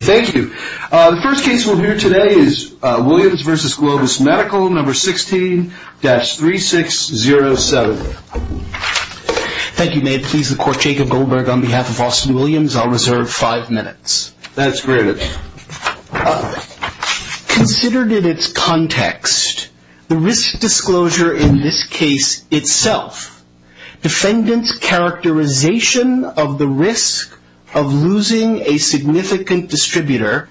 Thank you. The first case we'll hear today is Williams v. Globus Medical, No. 16-3607. Thank you. May it please the Court, Jacob Goldberg on behalf of Austin Williams. I'll reserve five minutes. That's great. Considered in its context, the risk disclosure in this case itself, defendant's characterization of the risk of losing a significant distributor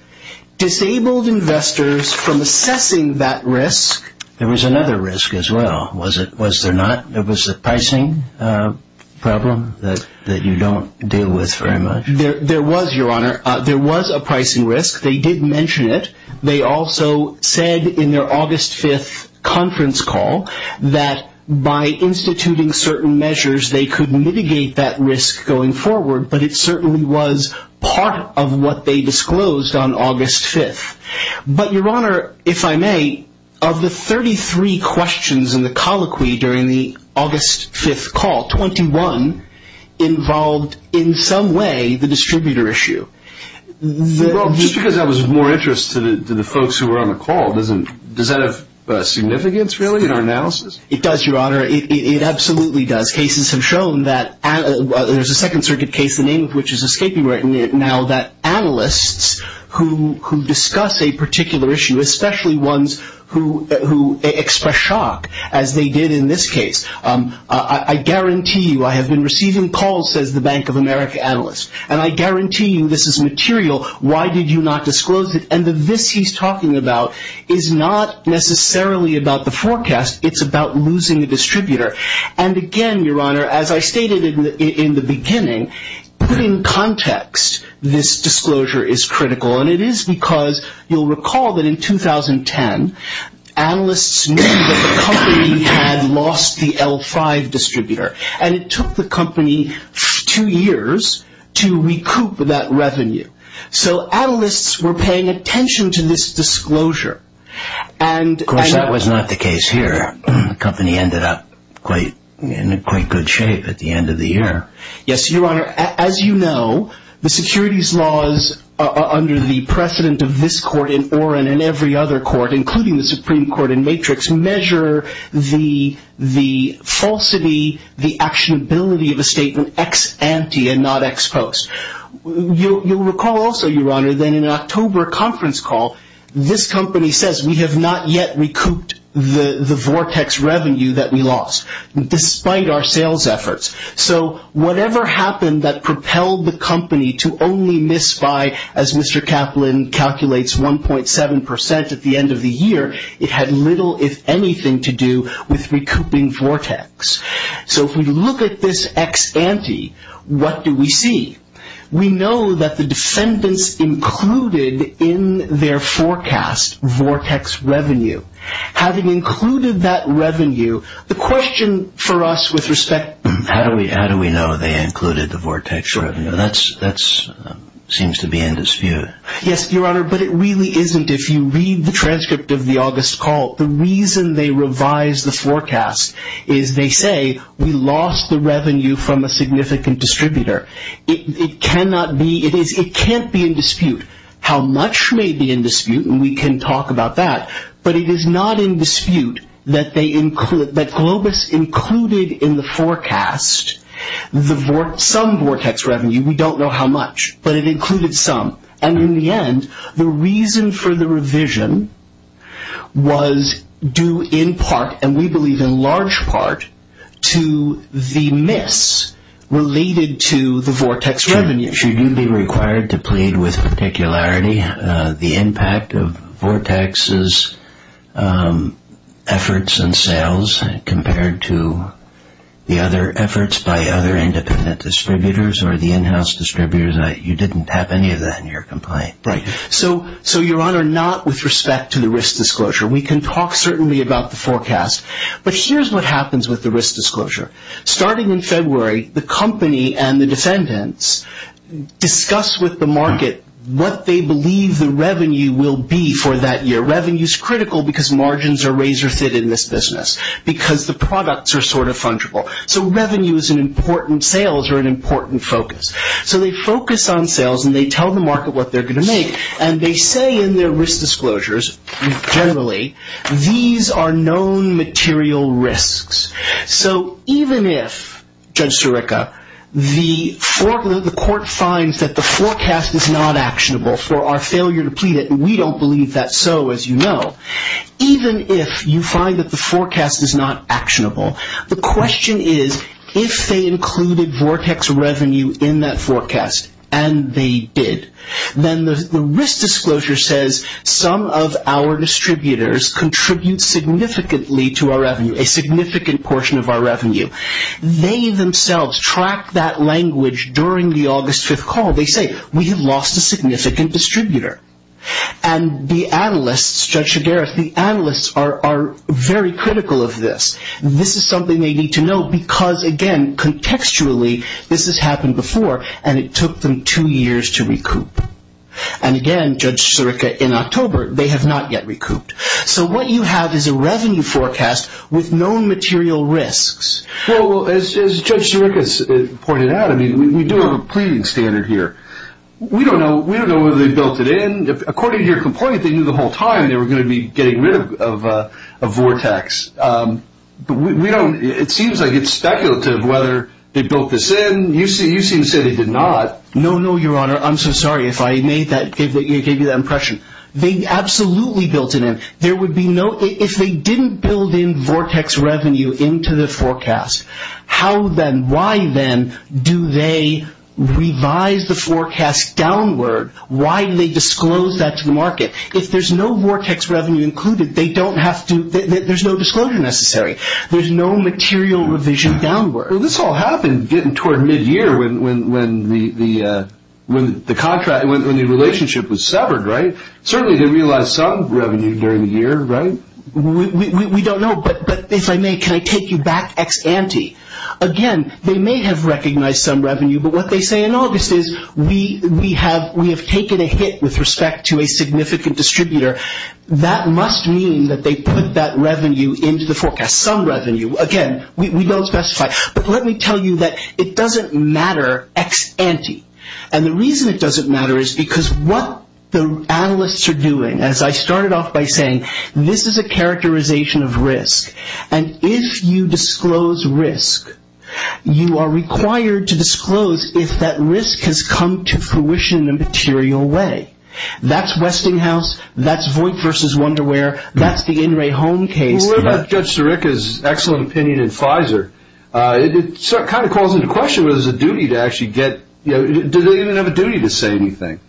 disabled investors from assessing that risk. There was another risk as well, was there not? There was a pricing problem that you don't deal with very much? There was, Your Honor. There was a pricing risk. They did mention it. They also said in their August 5th conference call that by instituting certain measures, they could mitigate that risk going forward. But it certainly was part of what they disclosed on August 5th. But, Your Honor, if I may, of the 33 questions in the colloquy during the August 5th call, 21 involved in some way the distributor issue. Well, just because that was of more interest to the folks who were on the call, does that have significance, really, in our analysis? It does, Your Honor. It absolutely does. Cases have shown that there's a Second Circuit case, the name of which is escaping right now, that analysts who discuss a particular issue, especially ones who express shock, as they did in this case, I guarantee you, I have been receiving calls, says the Bank of America analyst, and I guarantee you this is material. Why did you not disclose it? And the this he's talking about is not necessarily about the forecast. It's about losing the distributor. And again, Your Honor, as I stated in the beginning, putting context, this disclosure is critical. And it is because you'll recall that in 2010, analysts knew that the company had lost the L5 distributor. And it took the company two years to recoup that revenue. So analysts were paying attention to this disclosure. Of course, that was not the case here. The company ended up in quite good shape at the end of the year. Yes, Your Honor, as you know, the securities laws under the precedent of this court in Oren and every other court, including the Supreme Court in Matrix, measure the falsity, the actionability of a statement ex ante and not ex post. You'll recall also, Your Honor, that in an October conference call, this company says we have not yet recouped the Vortex revenue that we lost, despite our sales efforts. So whatever happened that propelled the company to only miss by, as Mr. Kaplan calculates, 1.7% at the end of the year, it had little, if anything, to do with recouping Vortex. So if we look at this ex ante, what do we see? We know that the defendants included in their forecast Vortex revenue. Having included that revenue, the question for us with respect... How do we know they included the Vortex revenue? That seems to be in dispute. Yes, Your Honor, but it really isn't. If you read the transcript of the August call, the reason they revised the forecast is they say we lost the revenue from a significant distributor. It cannot be, it can't be in dispute. How much may be in dispute, and we can talk about that, but it is not in dispute that Globus included in the forecast some Vortex revenue. We don't know how much, but it included some. And in the end, the reason for the revision was due in part, and we believe in large part, to the miss related to the Vortex revenue. Should you be required to plead with particularity the impact of Vortex's efforts and sales compared to the other efforts by other independent distributors or the in-house distributors? You didn't have any of that in your complaint. Right. So, Your Honor, not with respect to the risk disclosure. We can talk certainly about the forecast, but here's what happens with the risk disclosure. Starting in February, the company and the defendants discuss with the market what they believe the revenue will be for that year. Revenue is critical because margins are razor-thin in this business, because the products are sort of fungible. So revenue is an important, sales are an important focus. So they focus on sales, and they tell the market what they're going to make, and they say in their risk disclosures, generally, these are known material risks. So even if, Judge Sirica, the court finds that the forecast is not actionable for our failure to plead it, and we don't believe that, so as you know, even if you find that the forecast is not actionable, the question is, if they included Vortex revenue in that forecast, and they did, then the risk disclosure says some of our distributors contribute significantly to our revenue, a significant portion of our revenue. They themselves track that language during the August 5th call. They say, we lost a significant distributor. And the analysts, Judge Shigereth, the analysts are very critical of this. This is something they need to know, because again, contextually, this has happened before, and it took them two years to recoup. And again, Judge Sirica, in October, they have not yet recouped. So what you have is a revenue forecast with known material risks. Well, as Judge Sirica pointed out, we do have a pleading standard here. We don't know whether they built it in. According to your complaint, they knew the whole time they were going to be getting rid of Vortex. It seems like it's speculative whether they built this in. You seem to say they did not. No, no, Your Honor. I'm so sorry if I gave you that impression. They absolutely built it in. If they didn't build in Vortex revenue into the forecast, how then, why then, do they revise the forecast downward? Why do they disclose that to the market? If there's no Vortex revenue included, there's no disclosure necessary. There's no material revision downward. Well, this all happened toward mid-year when the relationship was severed, right? Certainly they realized some revenue during the year, right? We don't know, but if I may, can I take you back ex ante? Again, they may have recognized some revenue, but what they say in August is, we have taken a hit with respect to a significant distributor. That must mean that they put that revenue into the forecast, some revenue. Again, we don't specify. But let me tell you that it doesn't matter ex ante. And the reason it doesn't matter is because what the analysts are doing, as I started off by saying, this is a characterization of risk. And if you disclose risk, you are required to disclose if that risk has come to fruition in a material way. That's Westinghouse, that's Voigt v. Wonderware, that's the In re Home case. Well, what about Judge Sirica's excellent opinion in Pfizer? It kind of calls into question whether there's a duty to actually get, you know, do they even have a duty to say anything?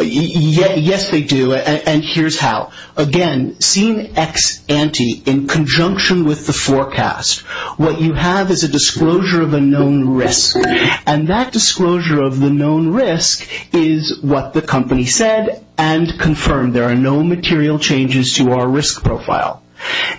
Yes, they do, and here's how. Again, seen ex ante in conjunction with the forecast. What you have is a disclosure of a known risk, and that disclosure of the known risk is what the company said and confirmed. There are no material changes to our risk profile.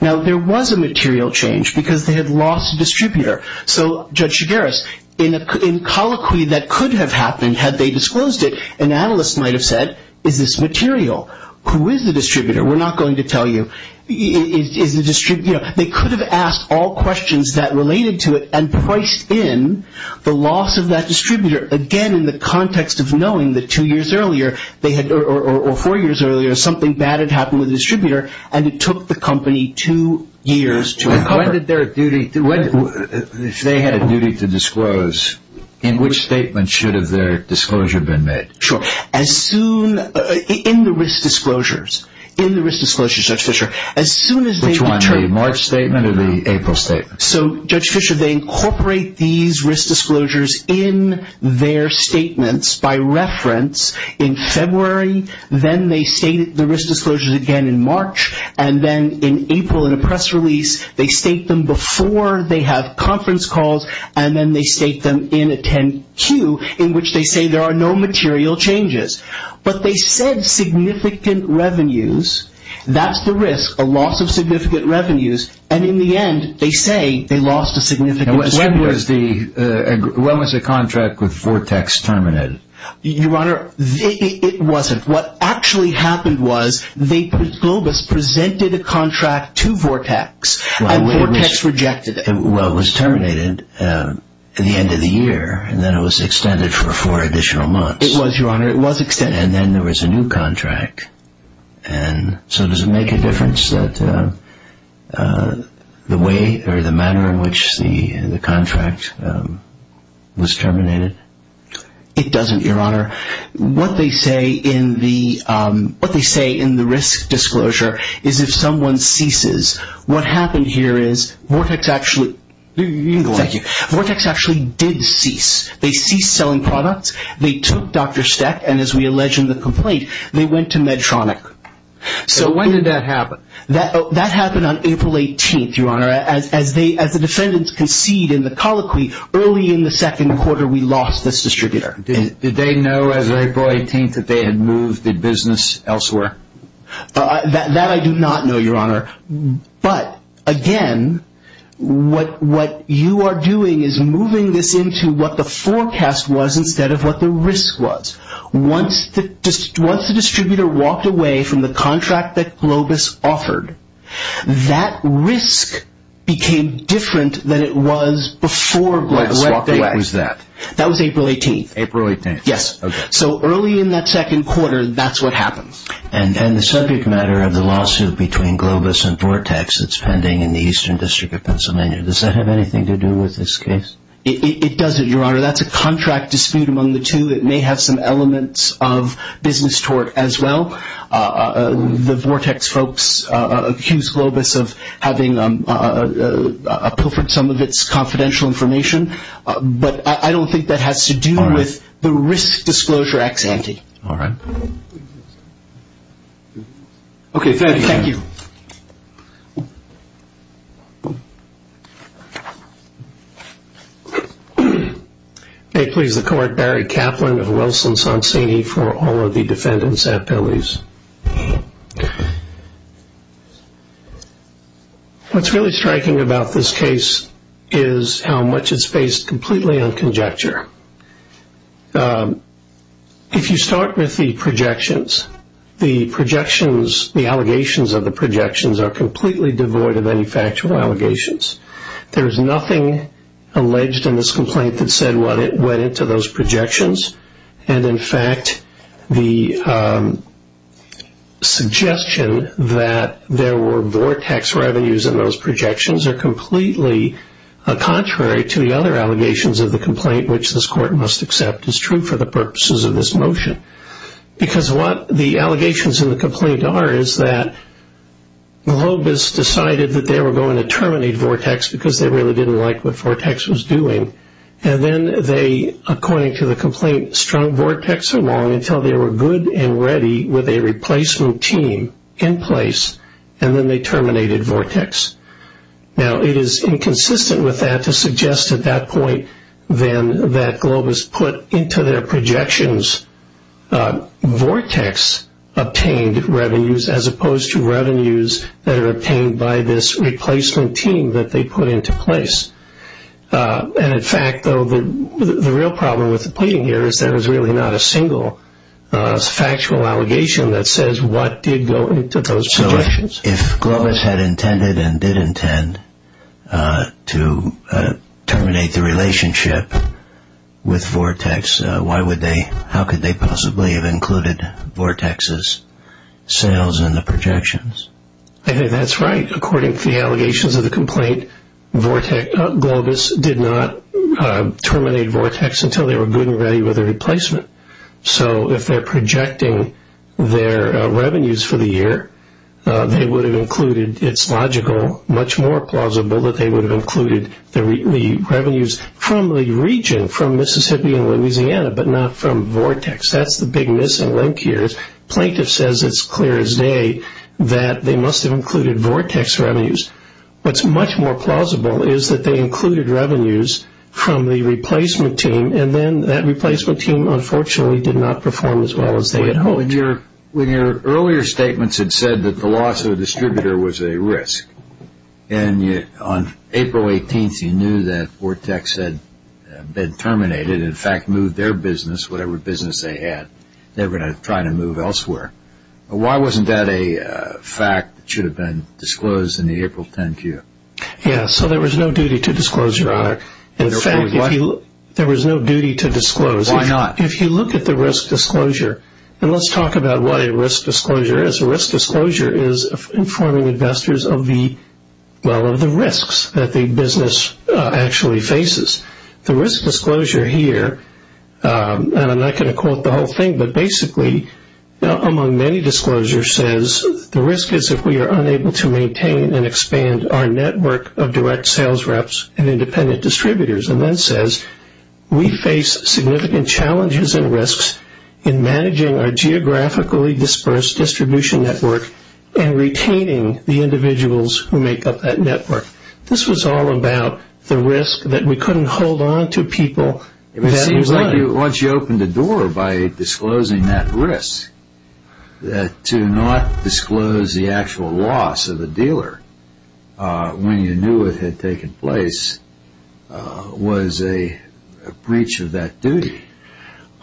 Now, there was a material change because they had lost a distributor. So, Judge Chigueras, in colloquy that could have happened had they disclosed it, an analyst might have said, is this material? Who is the distributor? We're not going to tell you. They could have asked all questions that related to it and priced in the loss of that distributor. Again, in the context of knowing that two years earlier, or four years earlier, something bad had happened with the distributor, and it took the company two years to recover. If they had a duty to disclose, in which statement should have their disclosure been made? Sure. In the risk disclosures, in the risk disclosures, Judge Fischer. Which one, the March statement or the April statement? So, Judge Fischer, they incorporate these risk disclosures in their statements by reference in February, then they state the risk disclosures again in March, and then in April, in a press release, they state them before they have conference calls, and then they state them in a 10-Q, in which they say there are no material changes. But they said significant revenues. That's the risk, a loss of significant revenues. And in the end, they say they lost a significant distributor. When was the contract with Vortex terminated? Your Honor, it wasn't. What actually happened was they, Globus, presented a contract to Vortex, and Vortex rejected it. Well, it was terminated at the end of the year, and then it was extended for four additional months. It was, Your Honor, it was extended. And then there was a new contract, and so does it make a difference that the way, or the manner in which the contract was terminated? It doesn't, Your Honor. What they say in the risk disclosure is if someone ceases, what happened here is Vortex actually did cease. They ceased selling products. They took Dr. Steck, and as we allege in the complaint, they went to Medtronic. So when did that happen? That happened on April 18th, Your Honor. As the defendants concede in the colloquy, early in the second quarter, we lost this distributor. Did they know as of April 18th that they had moved the business elsewhere? That I do not know, Your Honor. But, again, what you are doing is moving this into what the forecast was instead of what the risk was. Once the distributor walked away from the contract that Globus offered, that risk became different than it was before Globus walked away. What date was that? That was April 18th. April 18th. Yes. So early in that second quarter, that's what happened. And the subject matter of the lawsuit between Globus and Vortex that's pending in the Eastern District of Pennsylvania, does that have anything to do with this case? It doesn't, Your Honor. That's a contract dispute among the two. It may have some elements of business tort as well. The Vortex folks accused Globus of having pilfered some of its confidential information. But I don't think that has to do with the risk disclosure ex ante. All right. Okay, thank you. Thank you. May it please the Court, Barry Kaplan of Wilson-Sonsini for all of the defendants at Pele's. What's really striking about this case is how much it's based completely on conjecture. If you start with the projections, the projections, the allegations of the projections are completely devoid of any factual allegations. There is nothing alleged in this complaint that said what went into those projections. And, in fact, the suggestion that there were Vortex revenues in those projections are completely contrary to the other allegations of the complaint, which this Court must accept is true for the purposes of this motion. Because what the allegations in the complaint are is that Globus decided that they were going to terminate Vortex because they really didn't like what Vortex was doing. And then they, according to the complaint, strung Vortex along until they were good and ready with a replacement team in place, and then they terminated Vortex. Now, it is inconsistent with that to suggest at that point then that Globus put into their projections Vortex obtained revenues as opposed to revenues that are obtained by this replacement team that they put into place. And, in fact, the real problem with the plea here is that there is really not a single factual allegation that says what did go into those projections. So, if Globus had intended and did intend to terminate the relationship with Vortex, how could they possibly have included Vortex's sales in the projections? I think that's right. According to the allegations of the complaint, Globus did not terminate Vortex until they were good and ready with a replacement. So, if they're projecting their revenues for the year, they would have included, it's logical, much more plausible that they would have included the revenues from the region, from Mississippi and Louisiana, but not from Vortex. That's the big missing link here. Plaintiff says it's clear as day that they must have included Vortex revenues. What's much more plausible is that they included revenues from the replacement team, and then that replacement team, unfortunately, did not perform as well as they had hoped. When your earlier statements had said that the loss of a distributor was a risk, and on April 18th you knew that Vortex had been terminated and, in fact, moved their business, whatever business they had, they were going to try to move elsewhere. Why wasn't that a fact that should have been disclosed in the April 10 queue? Yes, so there was no duty to disclose, Your Honor. In fact, there was no duty to disclose. Why not? If you look at the risk disclosure, and let's talk about what a risk disclosure is. A risk disclosure is informing investors of the risks that the business actually faces. The risk disclosure here, and I'm not going to quote the whole thing, but basically among many disclosures says the risk is if we are unable to maintain and expand our network of direct sales reps and independent distributors, and then says we face significant challenges and risks in managing our geographically dispersed distribution network and retaining the individuals who make up that network. This was all about the risk that we couldn't hold on to people. It seems like once you opened the door by disclosing that risk, that to not disclose the actual loss of the dealer when you knew it had taken place was a breach of that duty.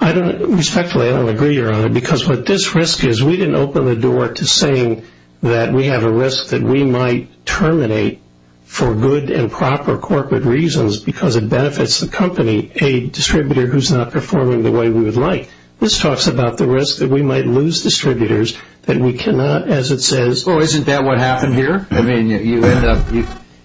Respectfully, I don't agree, Your Honor, because what this risk is we didn't open the door to saying that we have a risk that we might terminate for good and proper corporate reasons because it benefits the company, a distributor who is not performing the way we would like. This talks about the risk that we might lose distributors that we cannot, as it says. Well, isn't that what happened here? I mean, you end up,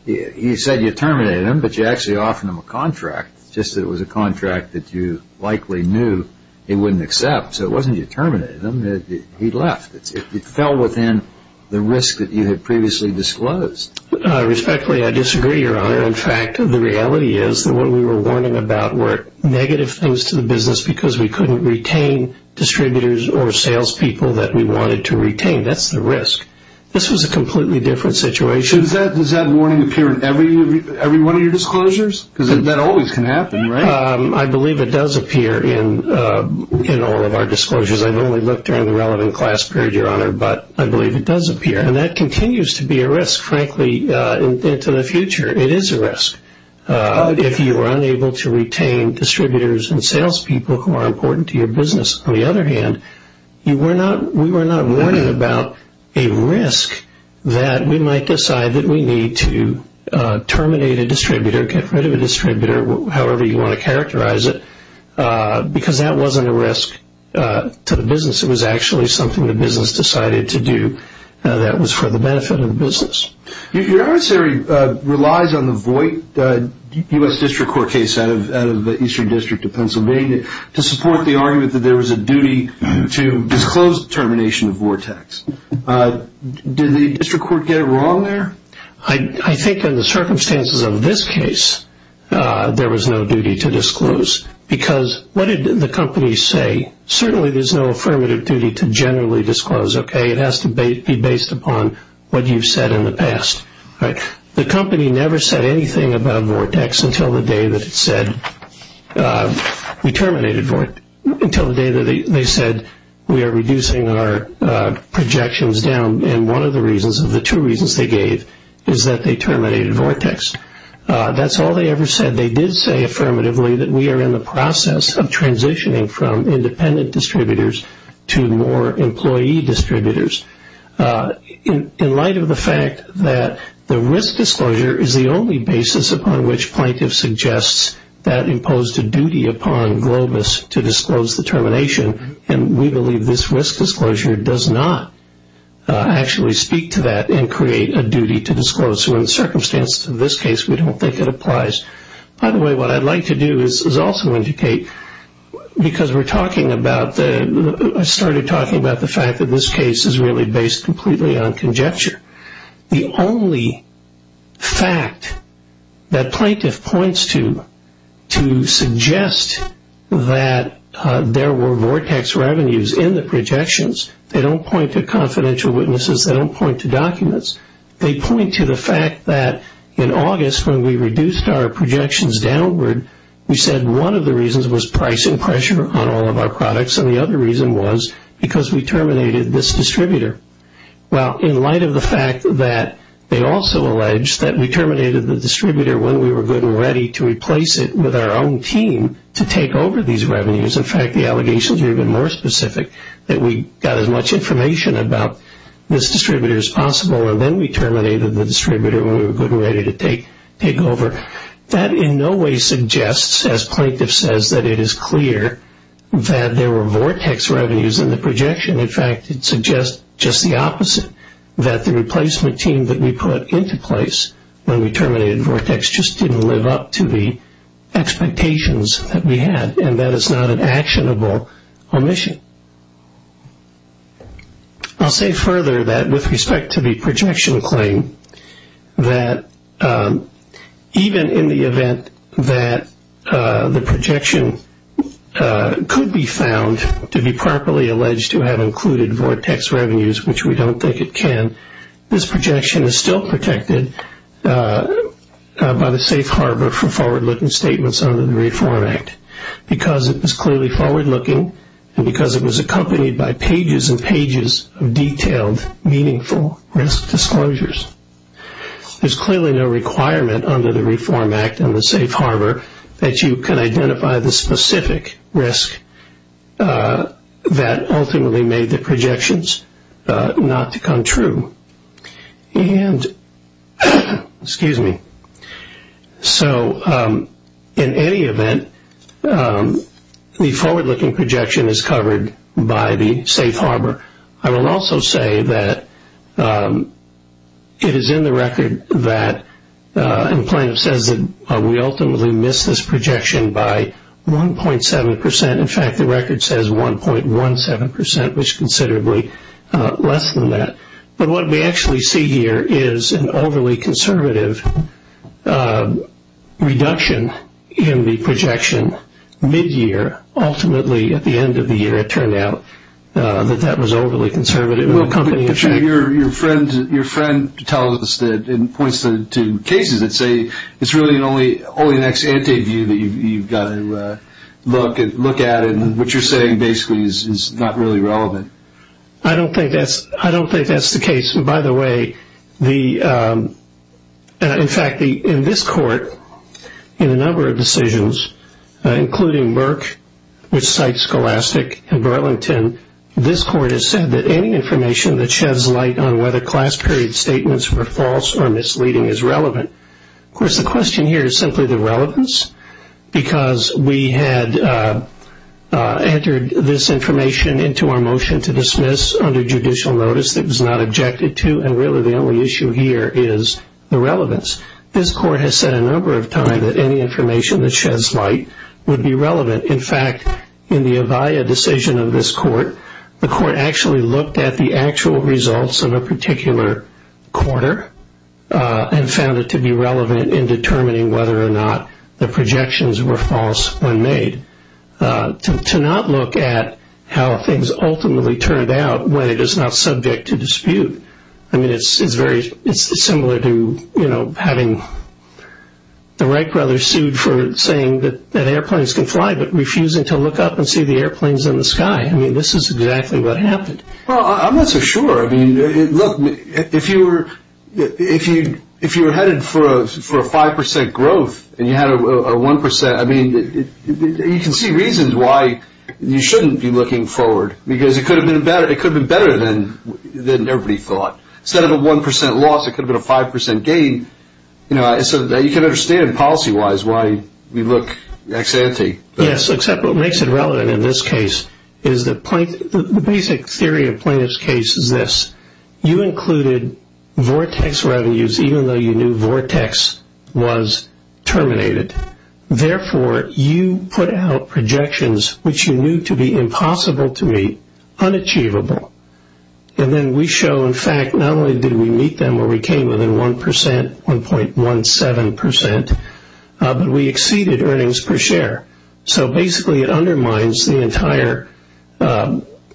you said you terminated him, but you actually offered him a contract, just that it was a contract that you likely knew he wouldn't accept. So it wasn't you terminated him, he left. It fell within the risk that you had previously disclosed. Respectfully, I disagree, Your Honor. In fact, the reality is that what we were warning about were negative things to the business because we couldn't retain distributors or salespeople that we wanted to retain. That's the risk. This was a completely different situation. Does that warning appear in every one of your disclosures? Because that always can happen, right? I believe it does appear in all of our disclosures. I've only looked during the relevant class period, Your Honor, but I believe it does appear. And that continues to be a risk, frankly, into the future. It is a risk. If you are unable to retain distributors and salespeople who are important to your business. On the other hand, we were not warning about a risk that we might decide that we need to terminate a distributor, get rid of a distributor, however you want to characterize it, because that wasn't a risk to the business. It was actually something the business decided to do that was for the benefit of the business. Your Honor's theory relies on the Voight U.S. District Court case out of the Eastern District of Pennsylvania to support the argument that there was a duty to disclose the termination of Vortex. Did the district court get it wrong there? I think in the circumstances of this case, there was no duty to disclose because what did the company say? Certainly there's no affirmative duty to generally disclose, okay? It has to be based upon what you've said in the past. The company never said anything about Vortex until the day that it said we terminated Vortex. Until the day that they said we are reducing our projections down. And one of the reasons, of the two reasons they gave, is that they terminated Vortex. That's all they ever said. They did say affirmatively that we are in the process of transitioning from independent distributors to more employee distributors. In light of the fact that the risk disclosure is the only basis upon which plaintiff suggests that imposed a duty upon Globus to disclose the termination, and we believe this risk disclosure does not actually speak to that and create a duty to disclose. So in the circumstances of this case, we don't think it applies. By the way, what I'd like to do is also indicate, because we're talking about the, I started talking about the fact that this case is really based completely on conjecture. The only fact that plaintiff points to, to suggest that there were Vortex revenues in the projections, they don't point to confidential witnesses, they don't point to documents. They point to the fact that in August, when we reduced our projections downward, we said one of the reasons was pricing pressure on all of our products, and the other reason was because we terminated this distributor. Well, in light of the fact that they also alleged that we terminated the distributor when we were good and ready to replace it with our own team to take over these revenues, in fact the allegations here have been more specific, that we got as much information about this distributor as possible, and then we terminated the distributor when we were good and ready to take over. That in no way suggests, as plaintiff says, that it is clear that there were Vortex revenues in the projection. In fact, it suggests just the opposite, that the replacement team that we put into place when we terminated Vortex just didn't live up to the expectations that we had, and that it's not an actionable omission. I'll say further that with respect to the projection claim, that even in the event that the projection could be found to be properly alleged to have included Vortex revenues, which we don't think it can, this projection is still protected by the Safe Harbor for forward-looking statements under the Reform Act, because it was clearly forward-looking, and because it was accompanied by pages and pages of detailed, meaningful risk disclosures. There's clearly no requirement under the Reform Act and the Safe Harbor that you can identify the specific risk that ultimately made the projections not to come true. In any event, the forward-looking projection is covered by the Safe Harbor. I will also say that it is in the record that the plaintiff says that we ultimately missed this projection by 1.7%. In fact, the record says 1.17%, which is considerably less than that. But what we actually see here is an overly conservative reduction in the projection mid-year. Ultimately, at the end of the year, it turned out that that was overly conservative. Your friend tells us and points to cases that say it's really only an ex-ante view that you've got to look at, and what you're saying basically is not really relevant. I don't think that's the case. By the way, in fact, in this court, in a number of decisions, including Merck, which cites Scholastic and Burlington, this court has said that any information that sheds light on whether class period statements were false or misleading is relevant. Of course, the question here is simply the relevance, because we had entered this information into our motion to dismiss under judicial notice that was not objected to, and really the only issue here is the relevance. This court has said a number of times that any information that sheds light would be relevant. In fact, in the Avaya decision of this court, the court actually looked at the actual results of a particular quarter and found it to be relevant in determining whether or not the projections were false when made. To not look at how things ultimately turned out when it is not subject to dispute, I mean, it's similar to having the Wright brothers sued for saying that airplanes can fly, but refusing to look up and see the airplanes in the sky. I mean, this is exactly what happened. Well, I'm not so sure. I mean, look, if you were headed for a 5% growth and you had a 1%, I mean, you can see reasons why you shouldn't be looking forward, because it could have been better than everybody thought. Instead of a 1% loss, it could have been a 5% gain. You know, you can understand policy-wise why we look ex-ante. Yes, except what makes it relevant in this case is the basic theory of Plaintiff's case is this. You included vortex revenues even though you knew vortex was terminated. Therefore, you put out projections which you knew to be impossible to meet, unachievable. And then we show, in fact, not only did we meet them where we came within 1%, 1.17%, but we exceeded earnings per share. So basically, it undermines the entire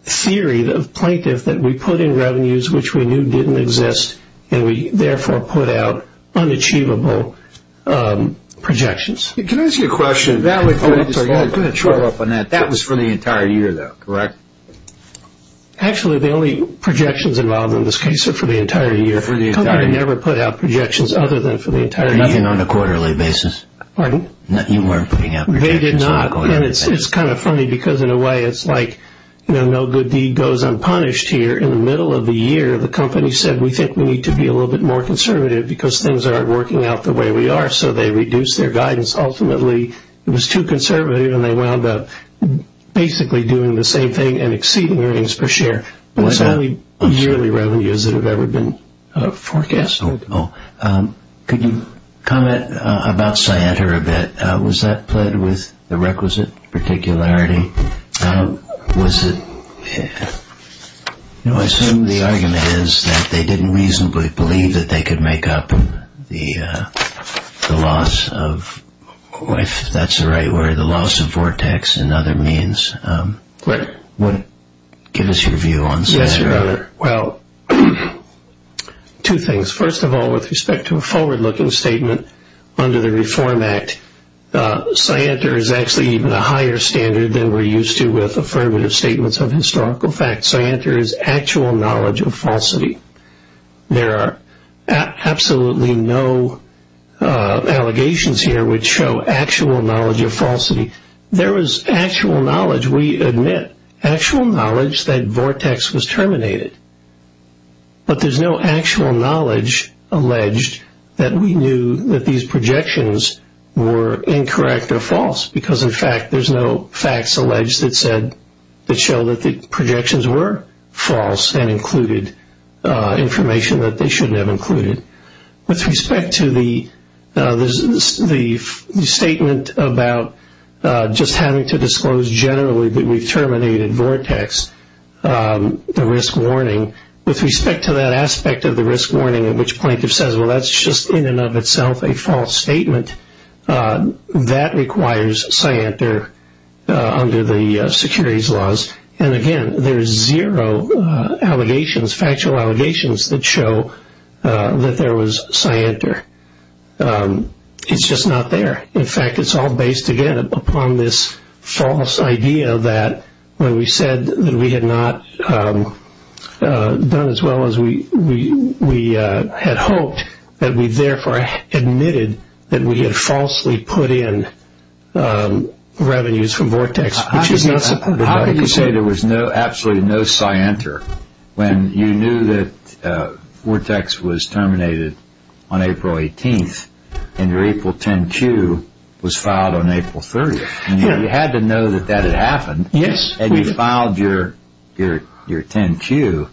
theory of Plaintiff that we put in revenues which we knew didn't exist, and we therefore put out unachievable projections. Can I ask you a question? Oh, I'm sorry. I'm going to throw up on that. That was for the entire year, though, correct? Actually, the only projections involved in this case are for the entire year. For the entire year. The company never put out projections other than for the entire year. Even on a quarterly basis? Pardon? You weren't putting out projections on a quarterly basis. They did not. And it's kind of funny because, in a way, it's like no good deed goes unpunished here. In the middle of the year, the company said, we think we need to be a little bit more conservative because things aren't working out the way we are. So they reduced their guidance. Ultimately, it was too conservative, and they wound up basically doing the same thing and exceeding earnings per share, but it's only yearly revenues that have ever been forecast. Could you comment about Scienter a bit? Was that pled with the requisite particularity? I assume the argument is that they didn't reasonably believe that they could make up the loss of, if that's the right word, the loss of Vortex and other means. Give us your view on Scienter. Well, two things. First of all, with respect to a forward-looking statement under the Reform Act, Scienter is actually even a higher standard than we're used to with affirmative statements of historical facts. Scienter is actual knowledge of falsity. There are absolutely no allegations here which show actual knowledge of falsity. There is actual knowledge, we admit, actual knowledge that Vortex was terminated, but there's no actual knowledge alleged that we knew that these projections were incorrect or false, because, in fact, there's no facts alleged that show that the projections were false and included information that they shouldn't have included. With respect to the statement about just having to disclose generally that we've terminated Vortex, the risk warning, with respect to that aspect of the risk warning at which plaintiff says, well, that's just in and of itself a false statement, that requires Scienter under the securities laws. And, again, there's zero allegations, factual allegations, that show that there was Scienter. It's just not there. In fact, it's all based, again, upon this false idea that when we said that we had not done as well as we had hoped, that we therefore admitted that we had falsely put in revenues from Vortex, How could you say there was absolutely no Scienter when you knew that Vortex was terminated on April 18th and your April 10 Q was filed on April 30th? You had to know that that had happened. Yes. And you filed your 10 Q.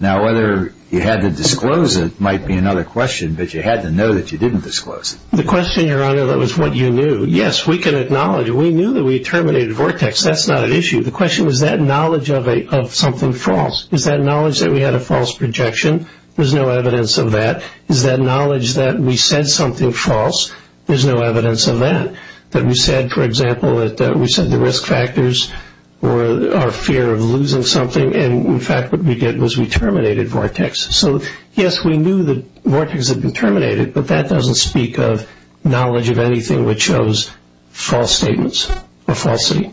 Now, whether you had to disclose it might be another question, but you had to know that you didn't disclose it. The question, Your Honor, that was what you knew. Yes, we can acknowledge it. We knew that we terminated Vortex. That's not an issue. The question was that knowledge of something false. Is that knowledge that we had a false projection? There's no evidence of that. Is that knowledge that we said something false? There's no evidence of that. That we said, for example, that we said the risk factors were our fear of losing something, and, in fact, what we did was we terminated Vortex. So, yes, we knew that Vortex had been terminated, but that doesn't speak of knowledge of anything which shows false statements or falsity.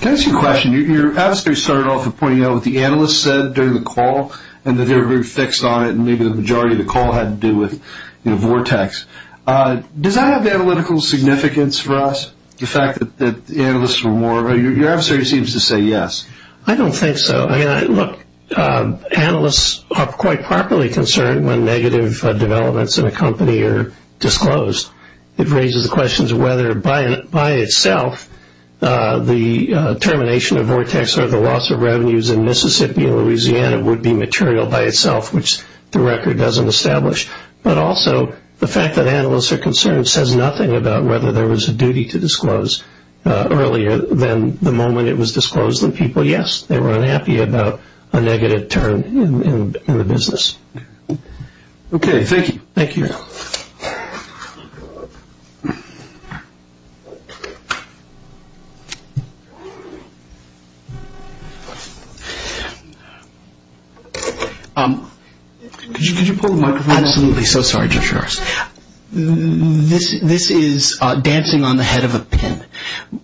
Can I ask you a question? Your adversary started off with pointing out what the analyst said during the call and that they were very fixed on it and maybe the majority of the call had to do with Vortex. Does that have analytical significance for us, the fact that the analysts were more of a Your adversary seems to say yes. I don't think so. Look, analysts are quite properly concerned when negative developments in a company are disclosed. It raises the question of whether, by itself, the termination of Vortex or the loss of revenues in Mississippi and Louisiana would be material by itself, which the record doesn't establish. But also the fact that analysts are concerned says nothing about whether there was a duty to disclose earlier than the moment it was disclosed. The people, yes, they were unhappy about a negative turn in the business. Okay, thank you. Thank you. Could you pull the microphone up? Absolutely. So sorry, Judge Harris. This is dancing on the head of a pin.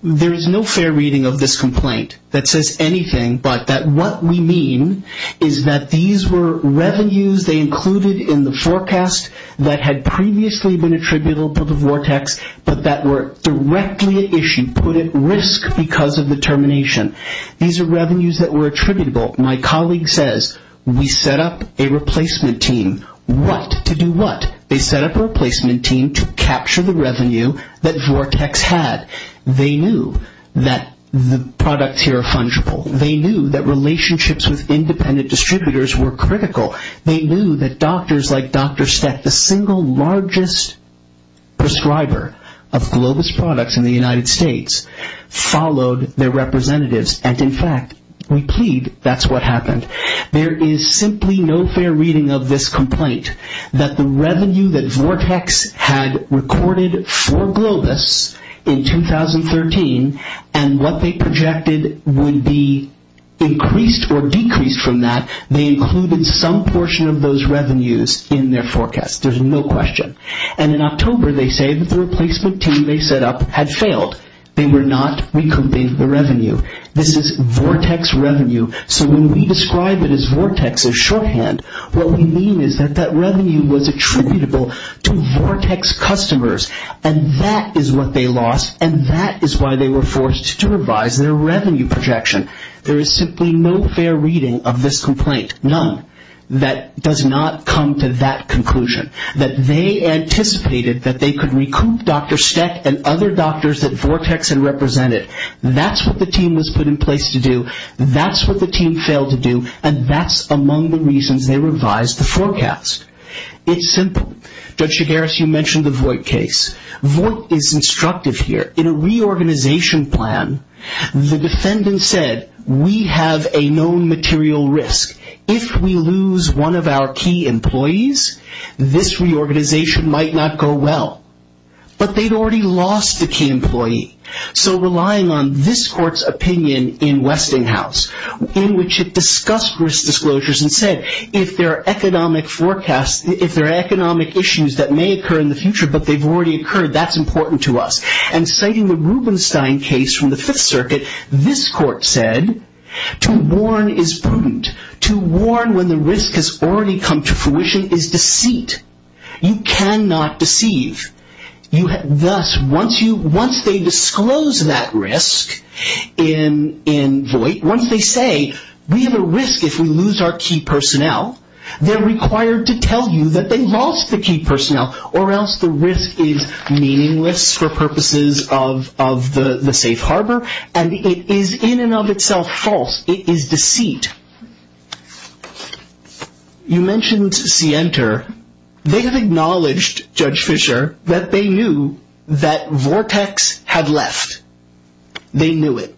There is no fair reading of this complaint that says anything but that what we mean is that these were revenues they included in the forecast that had previously been attributable to Vortex but that were directly issued, put at risk because of the termination. These are revenues that were attributable. My colleague says we set up a replacement team. What? To do what? They set up a replacement team to capture the revenue that Vortex had. They knew that the products here are fungible. They knew that relationships with independent distributors were critical. They knew that doctors like Dr. Steck, the single largest prescriber of Globus products in the United States, followed their representatives, and, in fact, we plead that's what happened. There is simply no fair reading of this complaint that the revenue that Vortex had recorded for Globus in 2013 and what they projected would be increased or decreased from that, they included some portion of those revenues in their forecast. There's no question. And in October, they say that the replacement team they set up had failed. They were not recouping the revenue. This is Vortex revenue. So when we describe it as Vortex as shorthand, what we mean is that that revenue was attributable to Vortex customers, and that is what they lost, and that is why they were forced to revise their revenue projection. There is simply no fair reading of this complaint, none, that does not come to that conclusion, that they anticipated that they could recoup Dr. Steck and other doctors that Vortex had represented. That's what the team was put in place to do. That's what the team failed to do, and that's among the reasons they revised the forecast. It's simple. Judge Chigares, you mentioned the Voight case. Voight is instructive here. In a reorganization plan, the defendant said, we have a known material risk. If we lose one of our key employees, this reorganization might not go well. But they'd already lost a key employee. So relying on this court's opinion in Westinghouse, in which it discussed risk disclosures and said, if there are economic issues that may occur in the future, but they've already occurred, that's important to us. And citing the Rubenstein case from the Fifth Circuit, this court said, to warn is prudent. To warn when the risk has already come to fruition is deceit. You cannot deceive. Thus, once they disclose that risk in Voight, once they say, we have a risk if we lose our key personnel, they're required to tell you that they lost the key personnel, or else the risk is meaningless for purposes of the safe harbor, and it is in and of itself false. It is deceit. You mentioned Sienter. They have acknowledged, Judge Fisher, that they knew that Vortex had left. They knew it.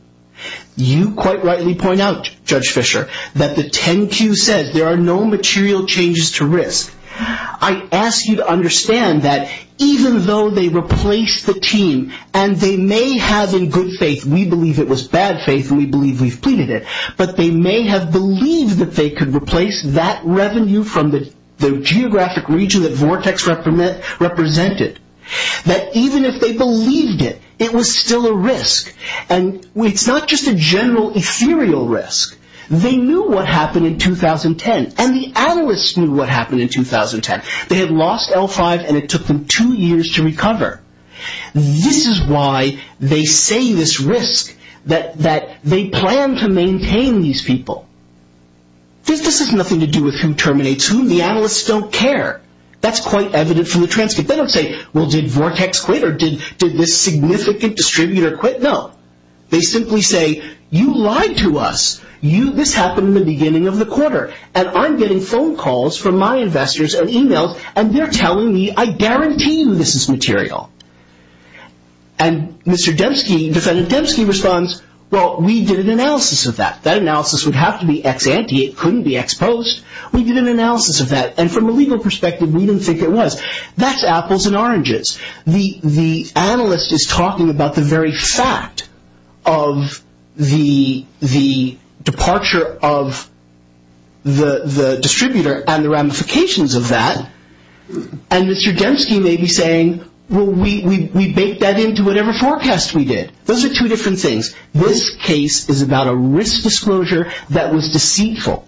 You quite rightly point out, Judge Fisher, that the 10Q says there are no material changes to risk. I ask you to understand that even though they replaced the team, and they may have in good faith, we believe it was bad faith, and we believe we've pleaded it, but they may have believed that they could replace that revenue from the geographic region that Vortex represented. That even if they believed it, it was still a risk. And it's not just a general ethereal risk. They knew what happened in 2010, and the analysts knew what happened in 2010. They had lost L5, and it took them two years to recover. This is why they say this risk, that they plan to maintain these people. This has nothing to do with who terminates who. The analysts don't care. That's quite evident from the transcript. They don't say, well, did Vortex quit, or did this significant distributor quit? No. They simply say, you lied to us. This happened in the beginning of the quarter, and I'm getting phone calls from my investors and emails, and they're telling me, I guarantee you this is material. And Mr. Dembski, defendant Dembski responds, well, we did an analysis of that. That analysis would have to be ex ante. It couldn't be ex post. We did an analysis of that, and from a legal perspective, we didn't think it was. That's apples and oranges. The analyst is talking about the very fact of the departure of the distributor and the ramifications of that, and Mr. Dembski may be saying, well, we baked that into whatever forecast we did. Those are two different things. This case is about a risk disclosure that was deceitful.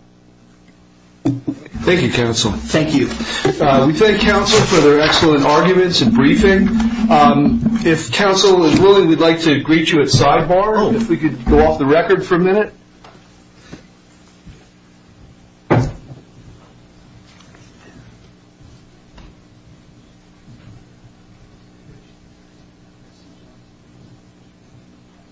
Thank you, counsel. Thank you. We thank counsel for their excellent arguments and briefing. If counsel is willing, we'd like to greet you at sidebar, if we could go off the record for a minute.